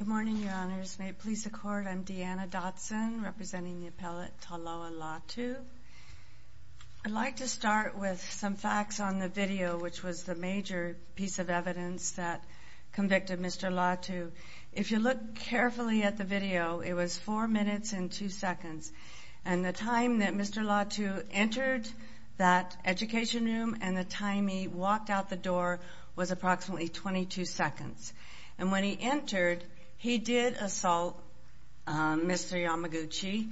Good morning, Your Honors. May it please the Court, I'm Deanna Dotson, representing the appellate Taloa Latu. I'd like to start with some facts on the video, which was the major piece of evidence that convicted Mr. Latu. If you look carefully at the video, it was four minutes and two seconds. And the time that Mr. Latu entered that education room and the time he walked out the door was approximately 22 seconds. And when he entered, he did assault Mr. Yamaguchi.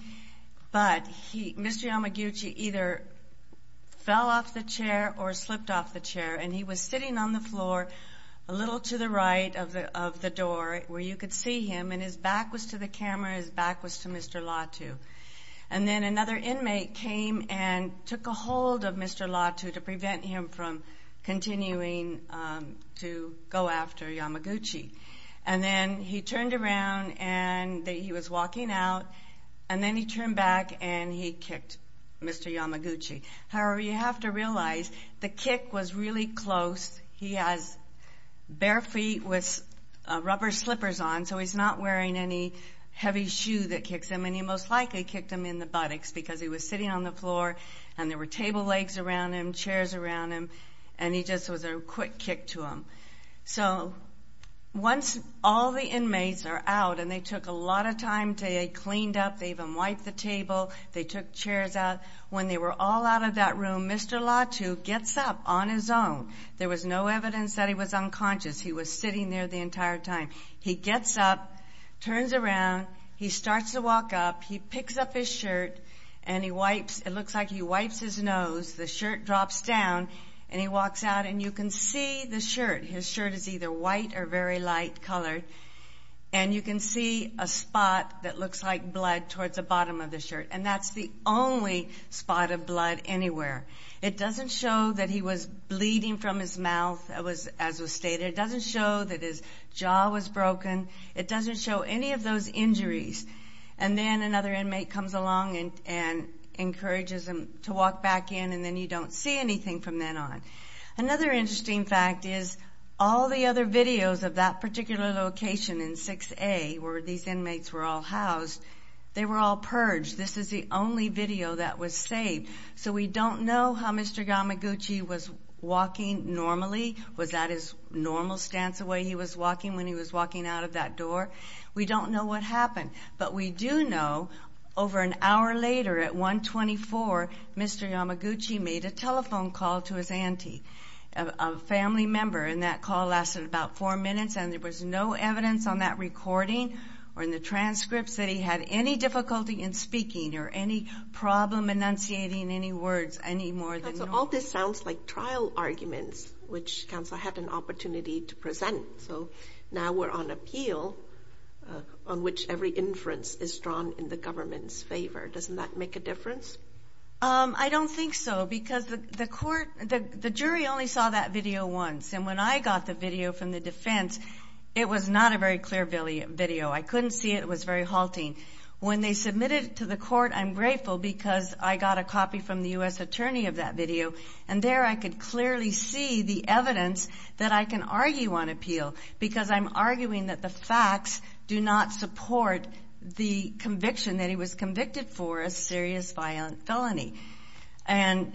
But Mr. Yamaguchi either fell off the chair or slipped off the chair. And he was sitting on the floor a little to the right of the door where you could see him. And his back was to the camera. His back was to Mr. Latu. And then another inmate came and took a hold of Mr. Latu to prevent him from continuing to go after Yamaguchi. And then he turned around and he was walking out. And then he turned back and he kicked Mr. Yamaguchi. However, you have to realize the kick was really close. He has bare feet with rubber slippers on, so he's not wearing any heavy shoe that kicks him. And he most likely kicked him in the buttocks because he was sitting on the floor. And there were table legs around him, chairs around him. And he just was a quick kick to him. So once all the inmates are out and they took a lot of time to get cleaned up. They even wiped the table. They took chairs out. When they were all out of that room, Mr. Latu gets up on his own. There was no evidence that he was unconscious. He was sitting there the entire time. He gets up, turns around. He starts to walk up. He picks up his shirt and he wipes. It looks like he wipes his nose. The shirt drops down and he walks out. And you can see the shirt. His shirt is either white or very light colored. And you can see a spot that looks like blood towards the bottom of the shirt. And that's the only spot of blood anywhere. It doesn't show that he was bleeding from his mouth as was stated. It doesn't show that his jaw was broken. It doesn't show any of those injuries. And then another inmate comes along and encourages him to walk back in. And then you don't see anything from then on. Another interesting fact is all the other videos of that particular location in 6A, where these inmates were all housed, they were all purged. This is the only video that was saved. So we don't know how Mr. Gamaguchi was walking normally. Was that his normal stance the way he was walking when he was walking out of that door? We don't know what happened. But we do know over an hour later at 124, Mr. Gamaguchi made a telephone call to his auntie, a family member, and that call lasted about four minutes. And there was no evidence on that recording or in the transcripts that he had any difficulty in speaking or any problem enunciating any words any more than normal. This sounds like trial arguments, which counsel had an opportunity to present. So now we're on appeal on which every inference is drawn in the government's favor. Doesn't that make a difference? I don't think so because the jury only saw that video once. And when I got the video from the defense, it was not a very clear video. I couldn't see it. It was very halting. When they submitted it to the court, I'm grateful because I got a copy from the U.S. attorney of that video. And there I could clearly see the evidence that I can argue on appeal because I'm arguing that the facts do not support the conviction that he was convicted for a serious violent felony. And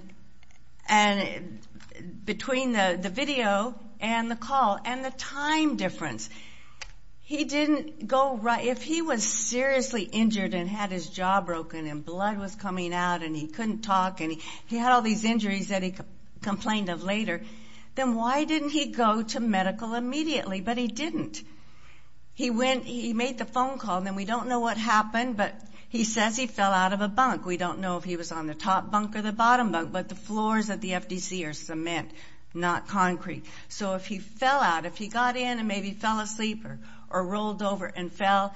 between the video and the call and the time difference, he didn't go right. If he was seriously injured and had his jaw broken and blood was coming out and he couldn't talk and he had all these injuries that he complained of later, then why didn't he go to medical immediately? But he didn't. He made the phone call, and then we don't know what happened, but he says he fell out of a bunk. We don't know if he was on the top bunk or the bottom bunk, but the floors at the FDC are cement, not concrete. So if he fell out, if he got in and maybe fell asleep or rolled over and fell,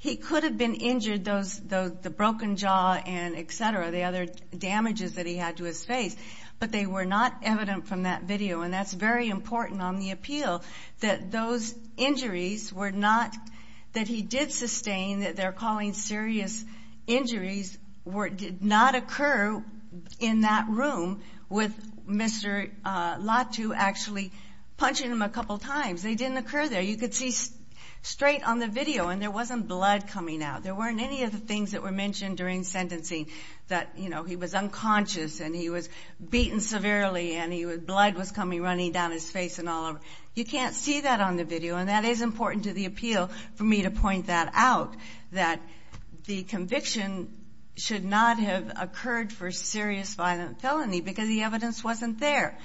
he could have been injured, the broken jaw and et cetera, the other damages that he had to his face, but they were not evident from that video. And that's very important on the appeal that those injuries were not that he did sustain, that they're calling serious injuries did not occur in that room with Mr. Latu actually punching him a couple times. They didn't occur there. You could see straight on the video, and there wasn't blood coming out. There weren't any of the things that were mentioned during sentencing that, you know, he was unconscious and he was beaten severely and blood was coming running down his face and all over. You can't see that on the video, and that is important to the appeal for me to point that out, that the conviction should not have occurred for serious violent felony because the evidence wasn't there.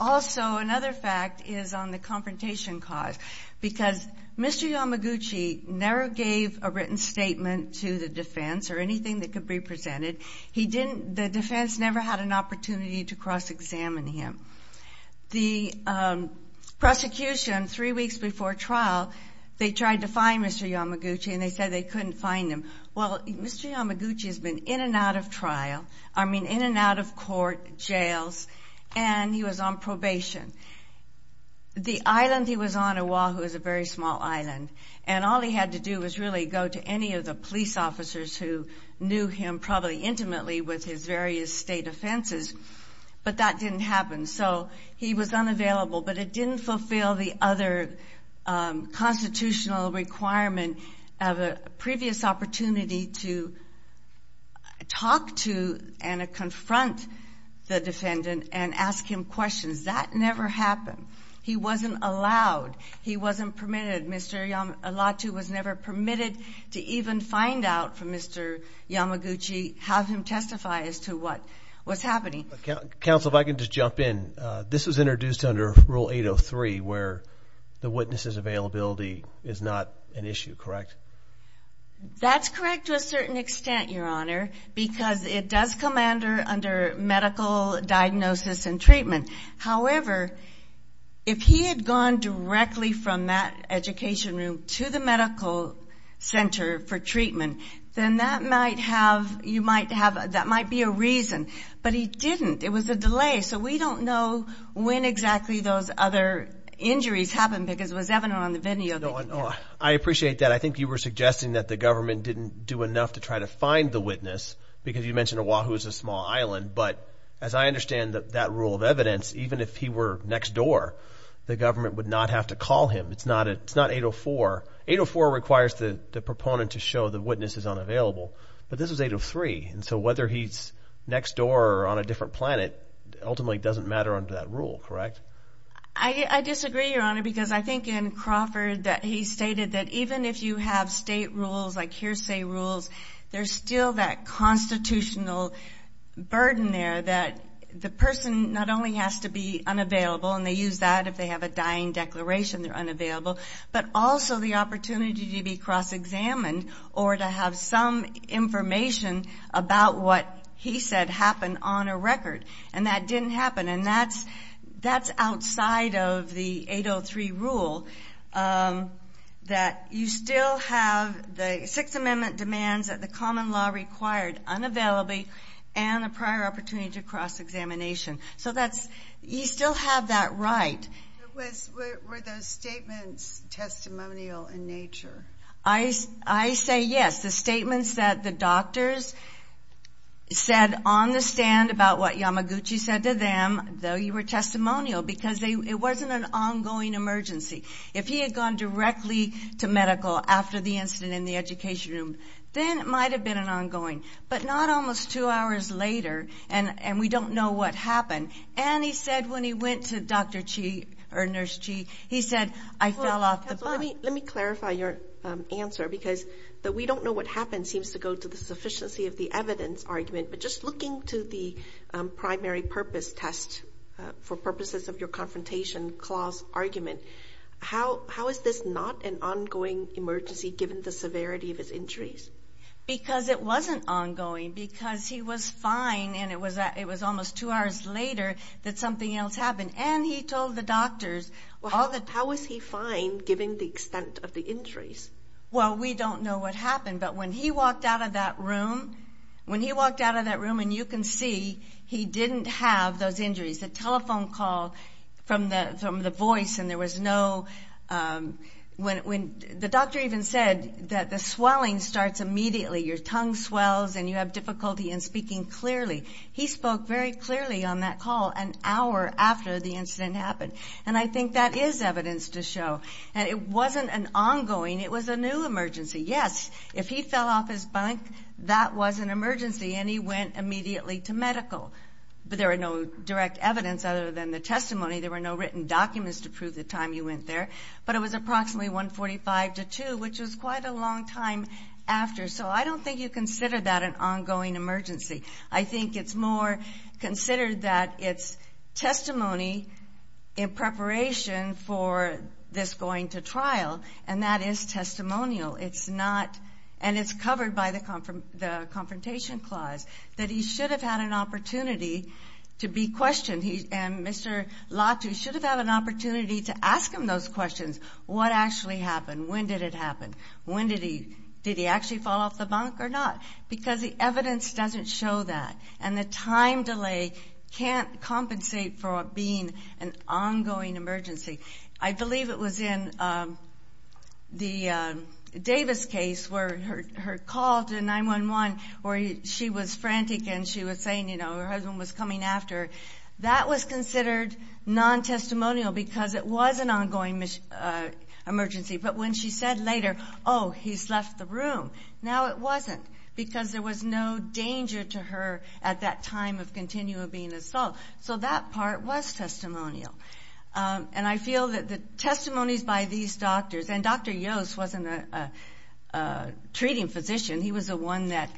Also, another fact is on the confrontation cause because Mr. Yamaguchi never gave a written statement to the defense or anything that could be presented. The defense never had an opportunity to cross-examine him. The prosecution, three weeks before trial, they tried to find Mr. Yamaguchi, and they said they couldn't find him. Well, Mr. Yamaguchi has been in and out of trial, I mean in and out of court, jails, and he was on probation. The island he was on, Oahu, is a very small island, and all he had to do was really go to any of the police officers who knew him probably intimately with his various state offenses, but that didn't happen, so he was unavailable, but it didn't fulfill the other constitutional requirement of a previous opportunity to talk to and confront the defendant and ask him questions. That never happened. He wasn't allowed. He wasn't permitted. Mr. Olatu was never permitted to even find out from Mr. Yamaguchi, have him testify as to what was happening. Counsel, if I could just jump in. This was introduced under Rule 803 where the witness's availability is not an issue, correct? That's correct to a certain extent, Your Honor, because it does come under medical diagnosis and treatment. However, if he had gone directly from that education room to the medical center for treatment, then that might be a reason, but he didn't. It was a delay, so we don't know when exactly those other injuries happened because it was evident on the video. I appreciate that. I think you were suggesting that the government didn't do enough to try to find the witness because you mentioned Oahu is a small island, but as I understand that rule of evidence, even if he were next door, the government would not have to call him. It's not 804. 804 requires the proponent to show the witness is unavailable, but this was 803, and so whether he's next door or on a different planet ultimately doesn't matter under that rule, correct? I disagree, Your Honor, because I think in Crawford that he stated that even if you have state rules like hearsay rules, there's still that constitutional burden there that the person not only has to be unavailable, and they use that if they have a dying declaration they're unavailable, but also the opportunity to be cross-examined or to have some information about what he said happened on a record, and that didn't happen, and that's outside of the 803 rule that you still have the Sixth Amendment demands, that the common law required unavailability and a prior opportunity to cross-examination, so you still have that right. Were those statements testimonial in nature? I say yes. The statements that the doctors said on the stand about what Yamaguchi said to them, though you were testimonial because it wasn't an ongoing emergency. If he had gone directly to medical after the incident in the education room, then it might have been an ongoing, but not almost two hours later, and we don't know what happened. And he said when he went to Dr. Chi or Nurse Chi, he said, I fell off the bus. Let me clarify your answer because the we don't know what happened seems to go to the sufficiency of the evidence argument, but just looking to the primary purpose test for purposes of your confrontation clause argument, how is this not an ongoing emergency given the severity of his injuries? Because it wasn't ongoing because he was fine, and it was almost two hours later that something else happened, and he told the doctors. How was he fine given the extent of the injuries? Well, we don't know what happened, but when he walked out of that room, when he walked out of that room and you can see he didn't have those injuries, the telephone call from the voice and there was no, when the doctor even said that the swelling starts immediately, your tongue swells and you have difficulty in speaking clearly. He spoke very clearly on that call an hour after the incident happened, and I think that is evidence to show that it wasn't an ongoing, it was a new emergency. Yes, if he fell off his bunk, that was an emergency, and he went immediately to medical, but there were no direct evidence other than the testimony. There were no written documents to prove the time he went there, but it was approximately 145 to 2, which was quite a long time after, so I don't think you consider that an ongoing emergency. I think it's more considered that it's testimony in preparation for this going to trial, and that is testimonial. It's not, and it's covered by the Confrontation Clause, that he should have had an opportunity to be questioned, and Mr. Latu should have had an opportunity to ask him those questions. What actually happened? When did it happen? When did he, did he actually fall off the bunk or not? Because the evidence doesn't show that, and the time delay can't compensate for being an ongoing emergency. I believe it was in the Davis case where her call to 911, where she was frantic and she was saying, you know, her husband was coming after her. That was considered non-testimonial because it was an ongoing emergency, but when she said later, oh, he's left the room, now it wasn't, because there was no danger to her at that time of continual being installed. So that part was testimonial. And I feel that the testimonies by these doctors, and Dr. Yost wasn't a treating physician. He was the one that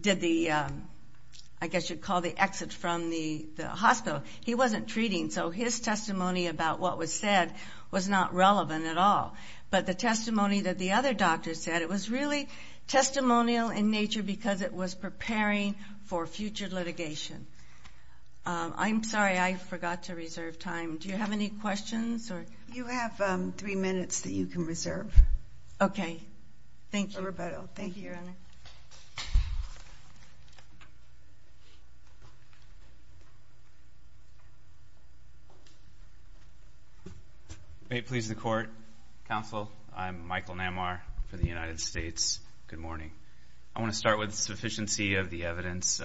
did the, I guess you'd call the exit from the hospital. He wasn't treating, so his testimony about what was said was not relevant at all. But the testimony that the other doctors said, it was really testimonial in nature because it was preparing for future litigation. I'm sorry, I forgot to reserve time. Do you have any questions? You have three minutes that you can reserve. Okay. Thank you. Thank you, Your Honor. May it please the Court, Counsel, I'm Michael Namar for the United States. Good morning. I want to start with sufficiency of the evidence.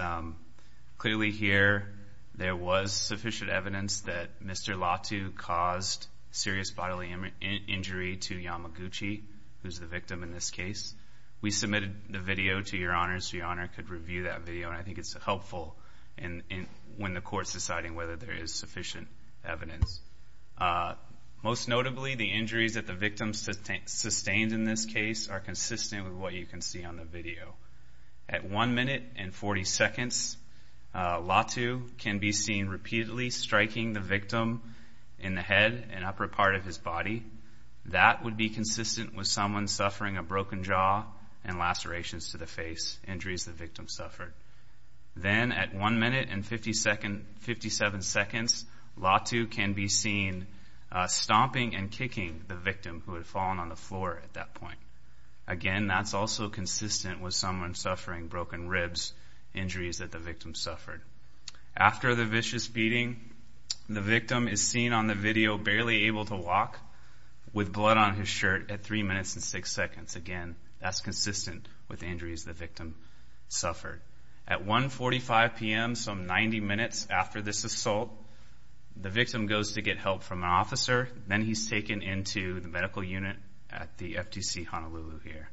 Clearly here there was sufficient evidence that Mr. Latu caused serious bodily injury to Yamaguchi, who's the victim in this case. We submitted the video to Your Honor so Your Honor could review that video, and I think it's helpful when the Court's deciding whether there is sufficient evidence. Most notably, the injuries that the victim sustained in this case are consistent with what you can see on the video. At 1 minute and 40 seconds, Latu can be seen repeatedly striking the victim in the head and upper part of his body. That would be consistent with someone suffering a broken jaw and lacerations to the face, injuries the victim suffered. Then at 1 minute and 57 seconds, Latu can be seen stomping and kicking the victim who had fallen on the floor at that point. Again, that's also consistent with someone suffering broken ribs, injuries that the victim suffered. After the vicious beating, the victim is seen on the video barely able to walk with blood on his shirt at 3 minutes and 6 seconds. Again, that's consistent with injuries the victim suffered. At 1.45 p.m., some 90 minutes after this assault, the victim goes to get help from an officer. Then he's taken into the medical unit at the FTC Honolulu here.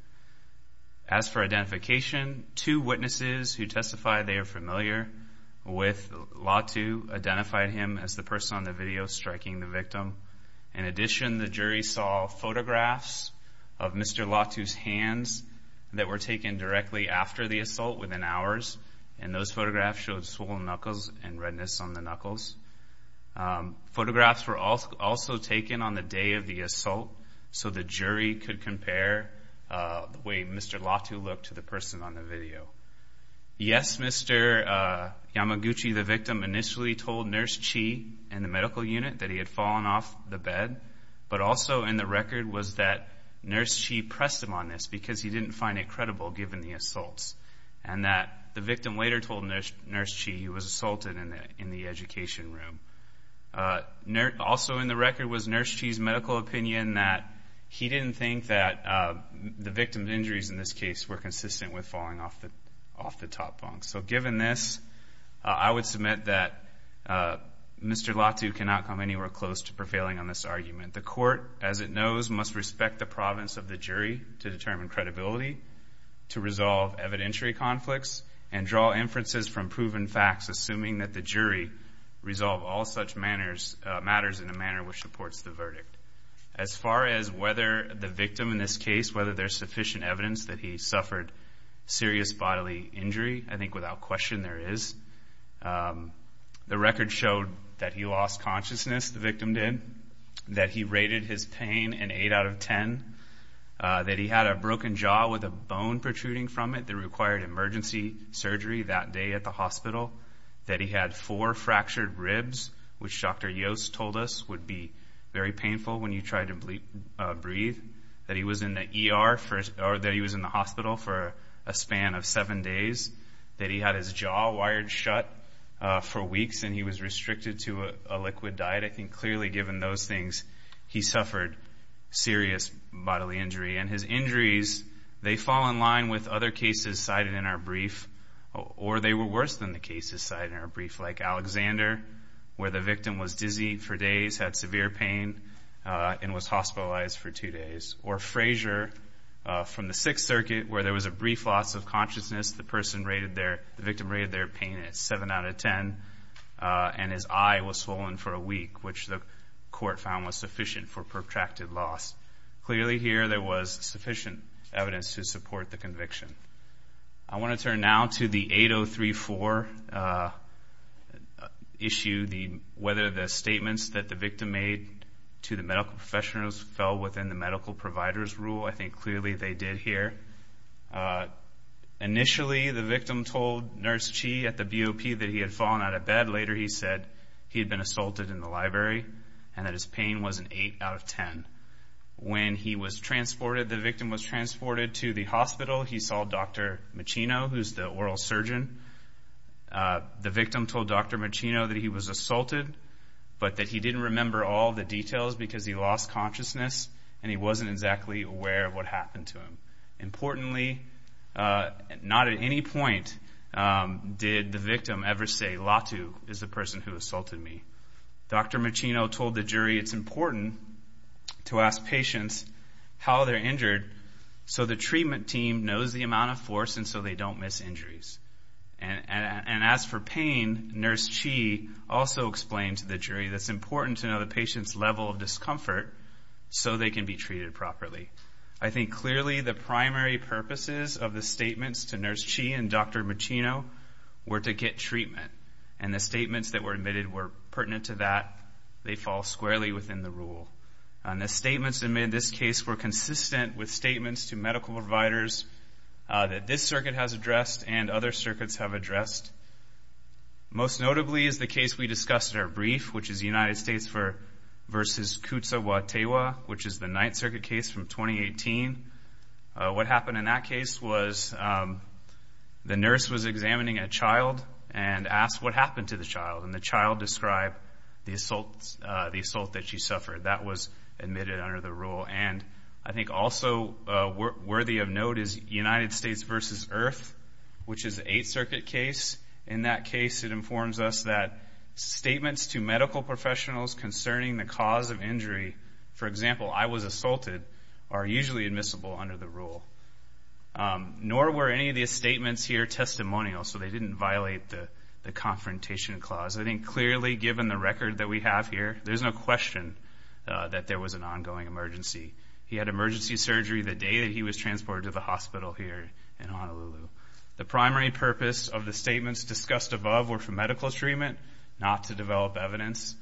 As for identification, two witnesses who testified they are familiar with Latu identified him as the person on the video striking the victim. In addition, the jury saw photographs of Mr. Latu's hands that were taken directly after the assault within hours, and those photographs showed swollen knuckles and redness on the knuckles. Photographs were also taken on the day of the assault so the jury could compare the way Mr. Latu looked to the person on the video. Yes, Mr. Yamaguchi, the victim, initially told Nurse Chi in the medical unit that he had fallen off the bed, but also in the record was that Nurse Chi pressed him on this because he didn't find it credible given the assaults, and that the victim later told Nurse Chi he was assaulted in the education room. Also in the record was Nurse Chi's medical opinion that he didn't think that the victim's injuries in this case were consistent with falling off the top bunk. So given this, I would submit that Mr. Latu cannot come anywhere close to prevailing on this argument. The court, as it knows, must respect the province of the jury to determine credibility, to resolve evidentiary conflicts, and draw inferences from proven facts assuming that the jury resolve all such matters in a manner which supports the verdict. As far as whether the victim in this case, whether there's sufficient evidence that he suffered serious bodily injury, I think without question there is. The record showed that he lost consciousness, the victim did, that he rated his pain an 8 out of 10, that he had a broken jaw with a bone protruding from it that required emergency surgery that day at the hospital, that he had four fractured ribs, which Dr. Yost told us would be very painful when you tried to breathe, that he was in the hospital for a span of seven days, that he had his jaw wired shut for weeks and he was restricted to a liquid diet. I think clearly given those things, he suffered serious bodily injury. And his injuries, they fall in line with other cases cited in our brief, or they were worse than the cases cited in our brief, like Alexander, where the victim was dizzy for days, had severe pain, and was hospitalized for two days. Or Frazier, from the Sixth Circuit, where there was a brief loss of consciousness, the victim rated their pain at 7 out of 10, and his eye was swollen for a week, which the court found was sufficient for protracted loss. Clearly here there was sufficient evidence to support the conviction. I want to turn now to the 8034 issue, whether the statements that the victim made to the medical professionals fell within the medical provider's rule. I think clearly they did here. Initially the victim told Nurse Chi at the BOP that he had fallen out of bed. Later he said he had been assaulted in the library and that his pain was an 8 out of 10. When he was transported, the victim was transported to the hospital, he saw Dr. Macino, who's the oral surgeon. The victim told Dr. Macino that he was assaulted, but that he didn't remember all the details because he lost consciousness and he wasn't exactly aware of what happened to him. Importantly, not at any point did the victim ever say, Latu is the person who assaulted me. Dr. Macino told the jury it's important to ask patients how they're injured so the treatment team knows the amount of force and so they don't miss injuries. And as for pain, Nurse Chi also explained to the jury that it's important to know the patient's level of discomfort so they can be treated properly. I think clearly the primary purposes of the statements to Nurse Chi and Dr. Macino were to get treatment, and the statements that were admitted were pertinent to that. They fall squarely within the rule. The statements admitted in this case were consistent with statements to medical providers that this circuit has addressed and other circuits have addressed. Most notably is the case we discussed in our brief, which is United States v. Kutsawa Teiwa, which is the Ninth Circuit case from 2018. What happened in that case was the nurse was examining a child and asked what happened to the child, and the child described the assault that she suffered. That was admitted under the rule. And I think also worthy of note is United States v. Earth, which is the Eighth Circuit case. In that case, it informs us that statements to medical professionals concerning the cause of injury, for example, I was assaulted, are usually admissible under the rule. Nor were any of these statements here testimonial, so they didn't violate the Confrontation Clause. I think clearly, given the record that we have here, there's no question that there was an ongoing emergency. He had emergency surgery the day that he was transported to the hospital here in Honolulu. The primary purpose of the statements discussed above were for medical treatment, not to develop evidence.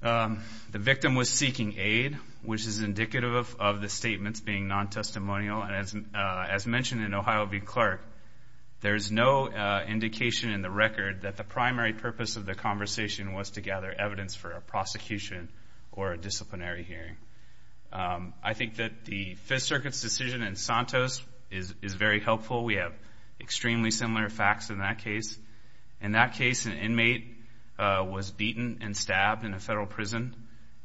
The victim was seeking aid, which is indicative of the statements being non-testimonial. As mentioned in Ohio v. Clark, there's no indication in the record that the primary purpose of the conversation was to gather evidence for a prosecution or a disciplinary hearing. I think that the Fifth Circuit's decision in Santos is very helpful. We have extremely similar facts in that case. In that case, an inmate was beaten and stabbed in a federal prison,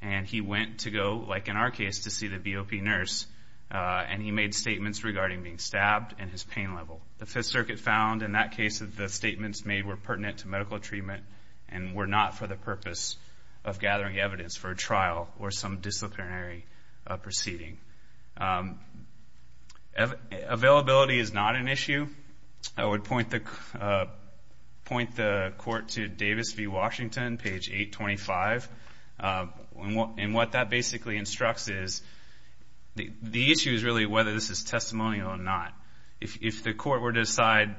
and he went to go, like in our case, to see the BOP nurse, and he made statements regarding being stabbed and his pain level. The Fifth Circuit found, in that case, that the statements made were pertinent to medical treatment and were not for the purpose of gathering evidence for a trial or some disciplinary proceeding. Availability is not an issue. I would point the court to Davis v. Washington, page 825. And what that basically instructs is the issue is really whether this is testimonial or not. If the court were to decide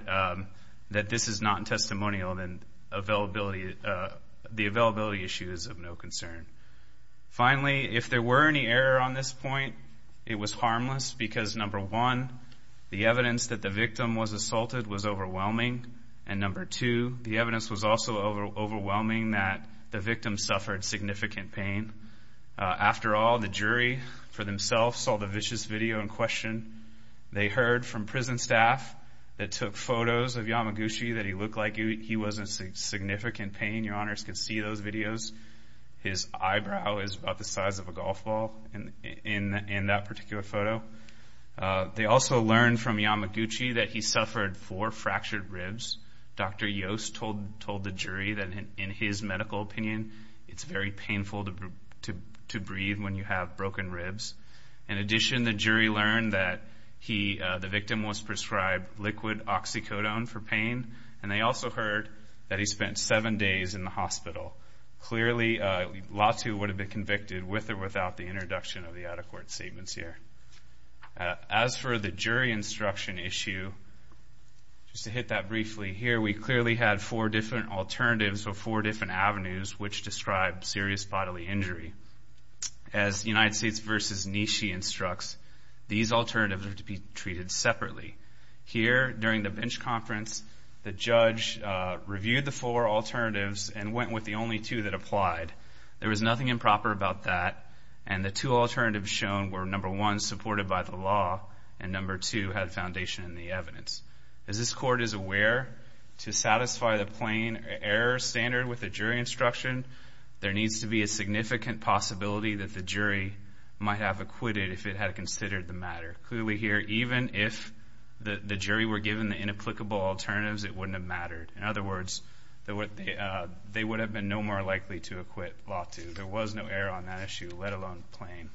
that this is not testimonial, then the availability issue is of no concern. Finally, if there were any error on this point, it was harmless because, number one, the evidence that the victim was assaulted was overwhelming, and, number two, the evidence was also overwhelming that the victim suffered significant pain. After all, the jury, for themselves, saw the vicious video in question. They heard from prison staff that took photos of Yamaguchi, that he looked like he was in significant pain. Your Honors can see those videos. His eyebrow is about the size of a golf ball in that particular photo. They also learned from Yamaguchi that he suffered four fractured ribs. Dr. Yost told the jury that, in his medical opinion, it's very painful to breathe when you have broken ribs. In addition, the jury learned that the victim was prescribed liquid oxycodone for pain, and they also heard that he spent seven days in the hospital. Clearly, Latu would have been convicted with or without the introduction of the out-of-court statements here. As for the jury instruction issue, just to hit that briefly, here we clearly had four different alternatives or four different avenues which describe serious bodily injury. As United States v. Nishi instructs, these alternatives are to be treated separately. Here, during the bench conference, the judge reviewed the four alternatives and went with the only two that applied. There was nothing improper about that, and the two alternatives shown were, number one, supported by the law, and number two, had foundation in the evidence. As this court is aware, to satisfy the plain error standard with the jury instruction, there needs to be a significant possibility that the jury might have acquitted if it had considered the matter. Clearly here, even if the jury were given the inapplicable alternatives, it wouldn't have mattered. In other words, they would have been no more likely to acquit Latu. There was no error on that issue, let alone plain.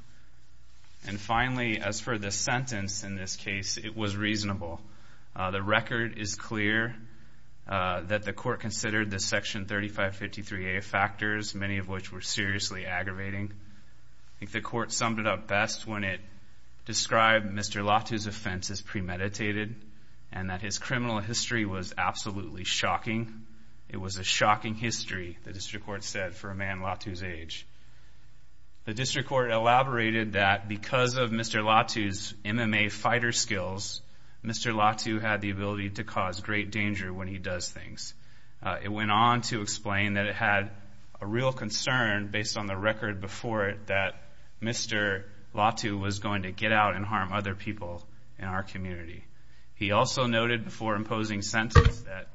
And finally, as for the sentence in this case, it was reasonable. The record is clear that the court considered the Section 3553A factors, many of which were seriously aggravating. I think the court summed it up best when it described Mr. Latu's offense as premeditated and that his criminal history was absolutely shocking. It was a shocking history, the district court said, for a man Latu's age. The district court elaborated that because of Mr. Latu's MMA fighter skills, Mr. Latu had the ability to cause great danger when he does things. It went on to explain that it had a real concern, based on the record before it, that Mr. Latu was going to get out and harm other people in our community. He also noted before imposing sentence that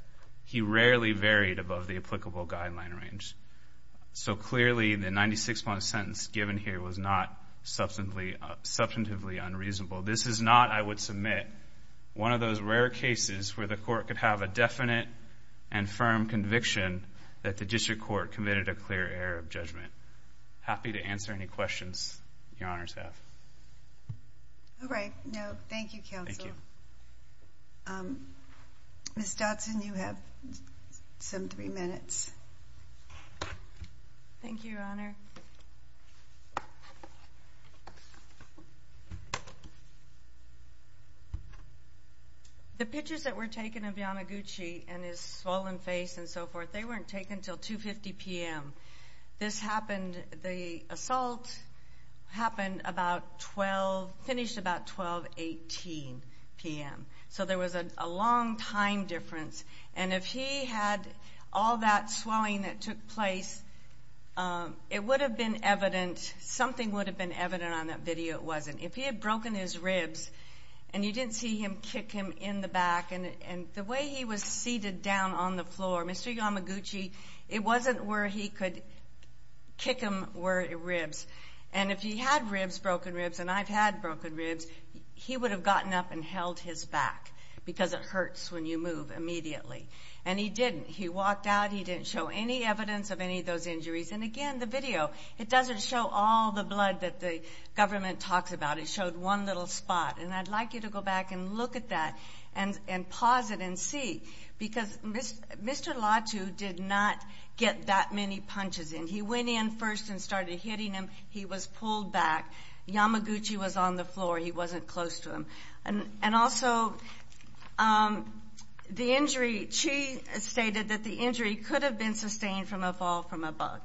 he rarely varied above the applicable guideline range. So clearly, the 96-point sentence given here was not substantively unreasonable. This is not, I would submit, one of those rare cases where the court could have a definite and firm conviction that the district court committed a clear error of judgment. Happy to answer any questions your honors have. All right. Thank you, counsel. Ms. Dodson, you have some three minutes. Thank you, your honor. The pictures that were taken of Yanaguchi and his swollen face and so forth, they weren't taken until 2.50 p.m. This happened, the assault happened about 12, finished about 12.18 p.m. So there was a long time difference. And if he had all that swelling that took place, it would have been evident, something would have been evident on that video, it wasn't. If he had broken his ribs and you didn't see him kick him in the back, and the way he was seated down on the floor, Mr. Yanaguchi, it wasn't where he could kick him were ribs. And if he had ribs, broken ribs, and I've had broken ribs, he would have gotten up and held his back because it hurts when you move immediately. And he didn't. He walked out. He didn't show any evidence of any of those injuries. And, again, the video, it doesn't show all the blood that the government talks about. It showed one little spot. And I'd like you to go back and look at that and pause it and see. Because Mr. Latu did not get that many punches in. He went in first and started hitting him. He was pulled back. Yamaguchi was on the floor. He wasn't close to him. And also the injury, she stated that the injury could have been sustained from a fall from a bug.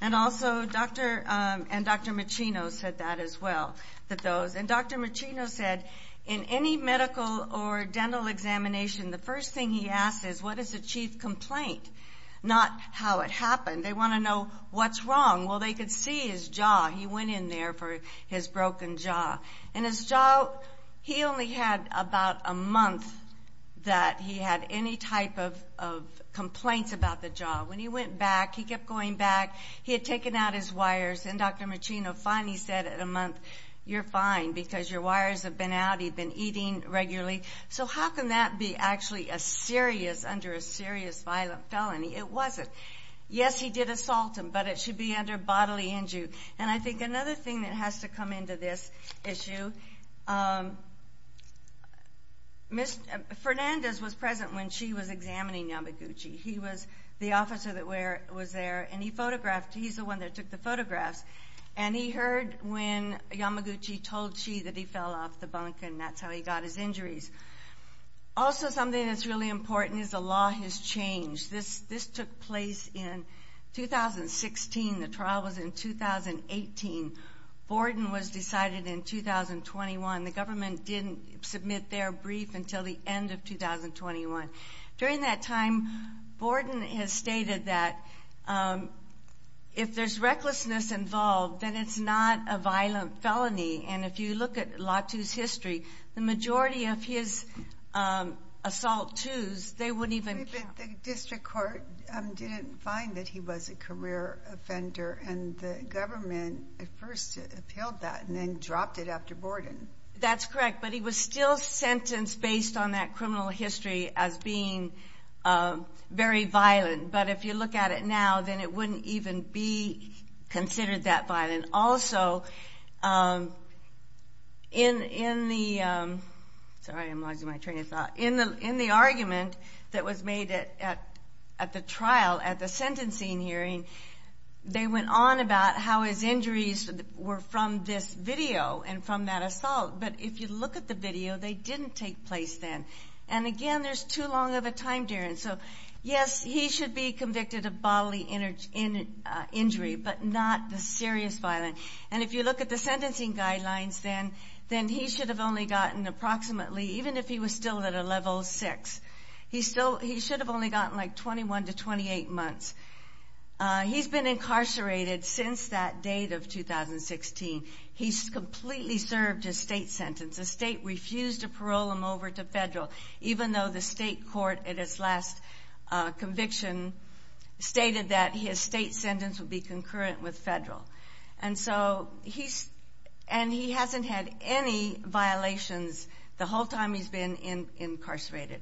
And also Dr. Machino said that as well. And Dr. Machino said in any medical or dental examination, the first thing he asks is what is the chief complaint, not how it happened. They want to know what's wrong. Well, they could see his jaw. He went in there for his broken jaw. And his jaw, he only had about a month that he had any type of complaints about the jaw. When he went back, he kept going back. He had taken out his wires. And Dr. Machino finally said in a month, you're fine because your wires have been out. He'd been eating regularly. So how can that be actually a serious, under a serious violent felony? It wasn't. Yes, he did assault him, but it should be under bodily injury. And I think another thing that has to come into this issue, Fernandez was present when she was examining Yamaguchi. He was the officer that was there, and he photographed. He's the one that took the photographs. And he heard when Yamaguchi told she that he fell off the bunk, and that's how he got his injuries. Also something that's really important is the law has changed. This took place in 2016. The trial was in 2018. Borden was decided in 2021. The government didn't submit their brief until the end of 2021. During that time, Borden has stated that if there's recklessness involved, then it's not a violent felony. And if you look at Lotu's history, the majority of his assault twos, they wouldn't even count. The district court didn't find that he was a career offender, and the government at first appealed that and then dropped it after Borden. That's correct, but he was still sentenced based on that criminal history as being very violent. But if you look at it now, then it wouldn't even be considered that violent. And also in the argument that was made at the trial, at the sentencing hearing, they went on about how his injuries were from this video and from that assault. But if you look at the video, they didn't take place then. And again, there's too long of a time, Darren. So, yes, he should be convicted of bodily injury, but not the serious violence. And if you look at the sentencing guidelines, then he should have only gotten approximately, even if he was still at a level six, he should have only gotten like 21 to 28 months. He's been incarcerated since that date of 2016. He's completely served his state sentence. The state refused to parole him over to federal, even though the state court, at its last conviction, stated that his state sentence would be concurrent with federal. And he hasn't had any violations the whole time he's been incarcerated.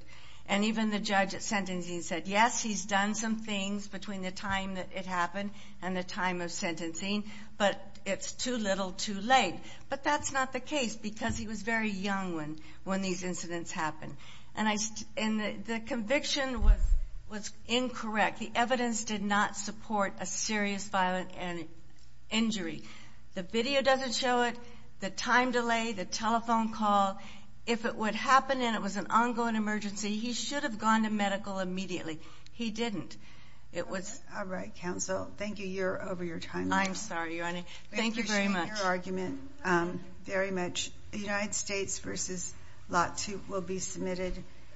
And even the judge at sentencing said, yes, he's done some things between the time that it happened and the time of sentencing, but it's too little too late. But that's not the case because he was very young when these incidents happened. And the conviction was incorrect. The evidence did not support a serious violent injury. The video doesn't show it, the time delay, the telephone call. If it would happen and it was an ongoing emergency, he should have gone to medical immediately. He didn't. All right, counsel. Thank you. You're over your time limit. I'm sorry, Your Honor. Okay. Thank you very much. We appreciate your argument very much. The United States v. Lahtou will be submitted.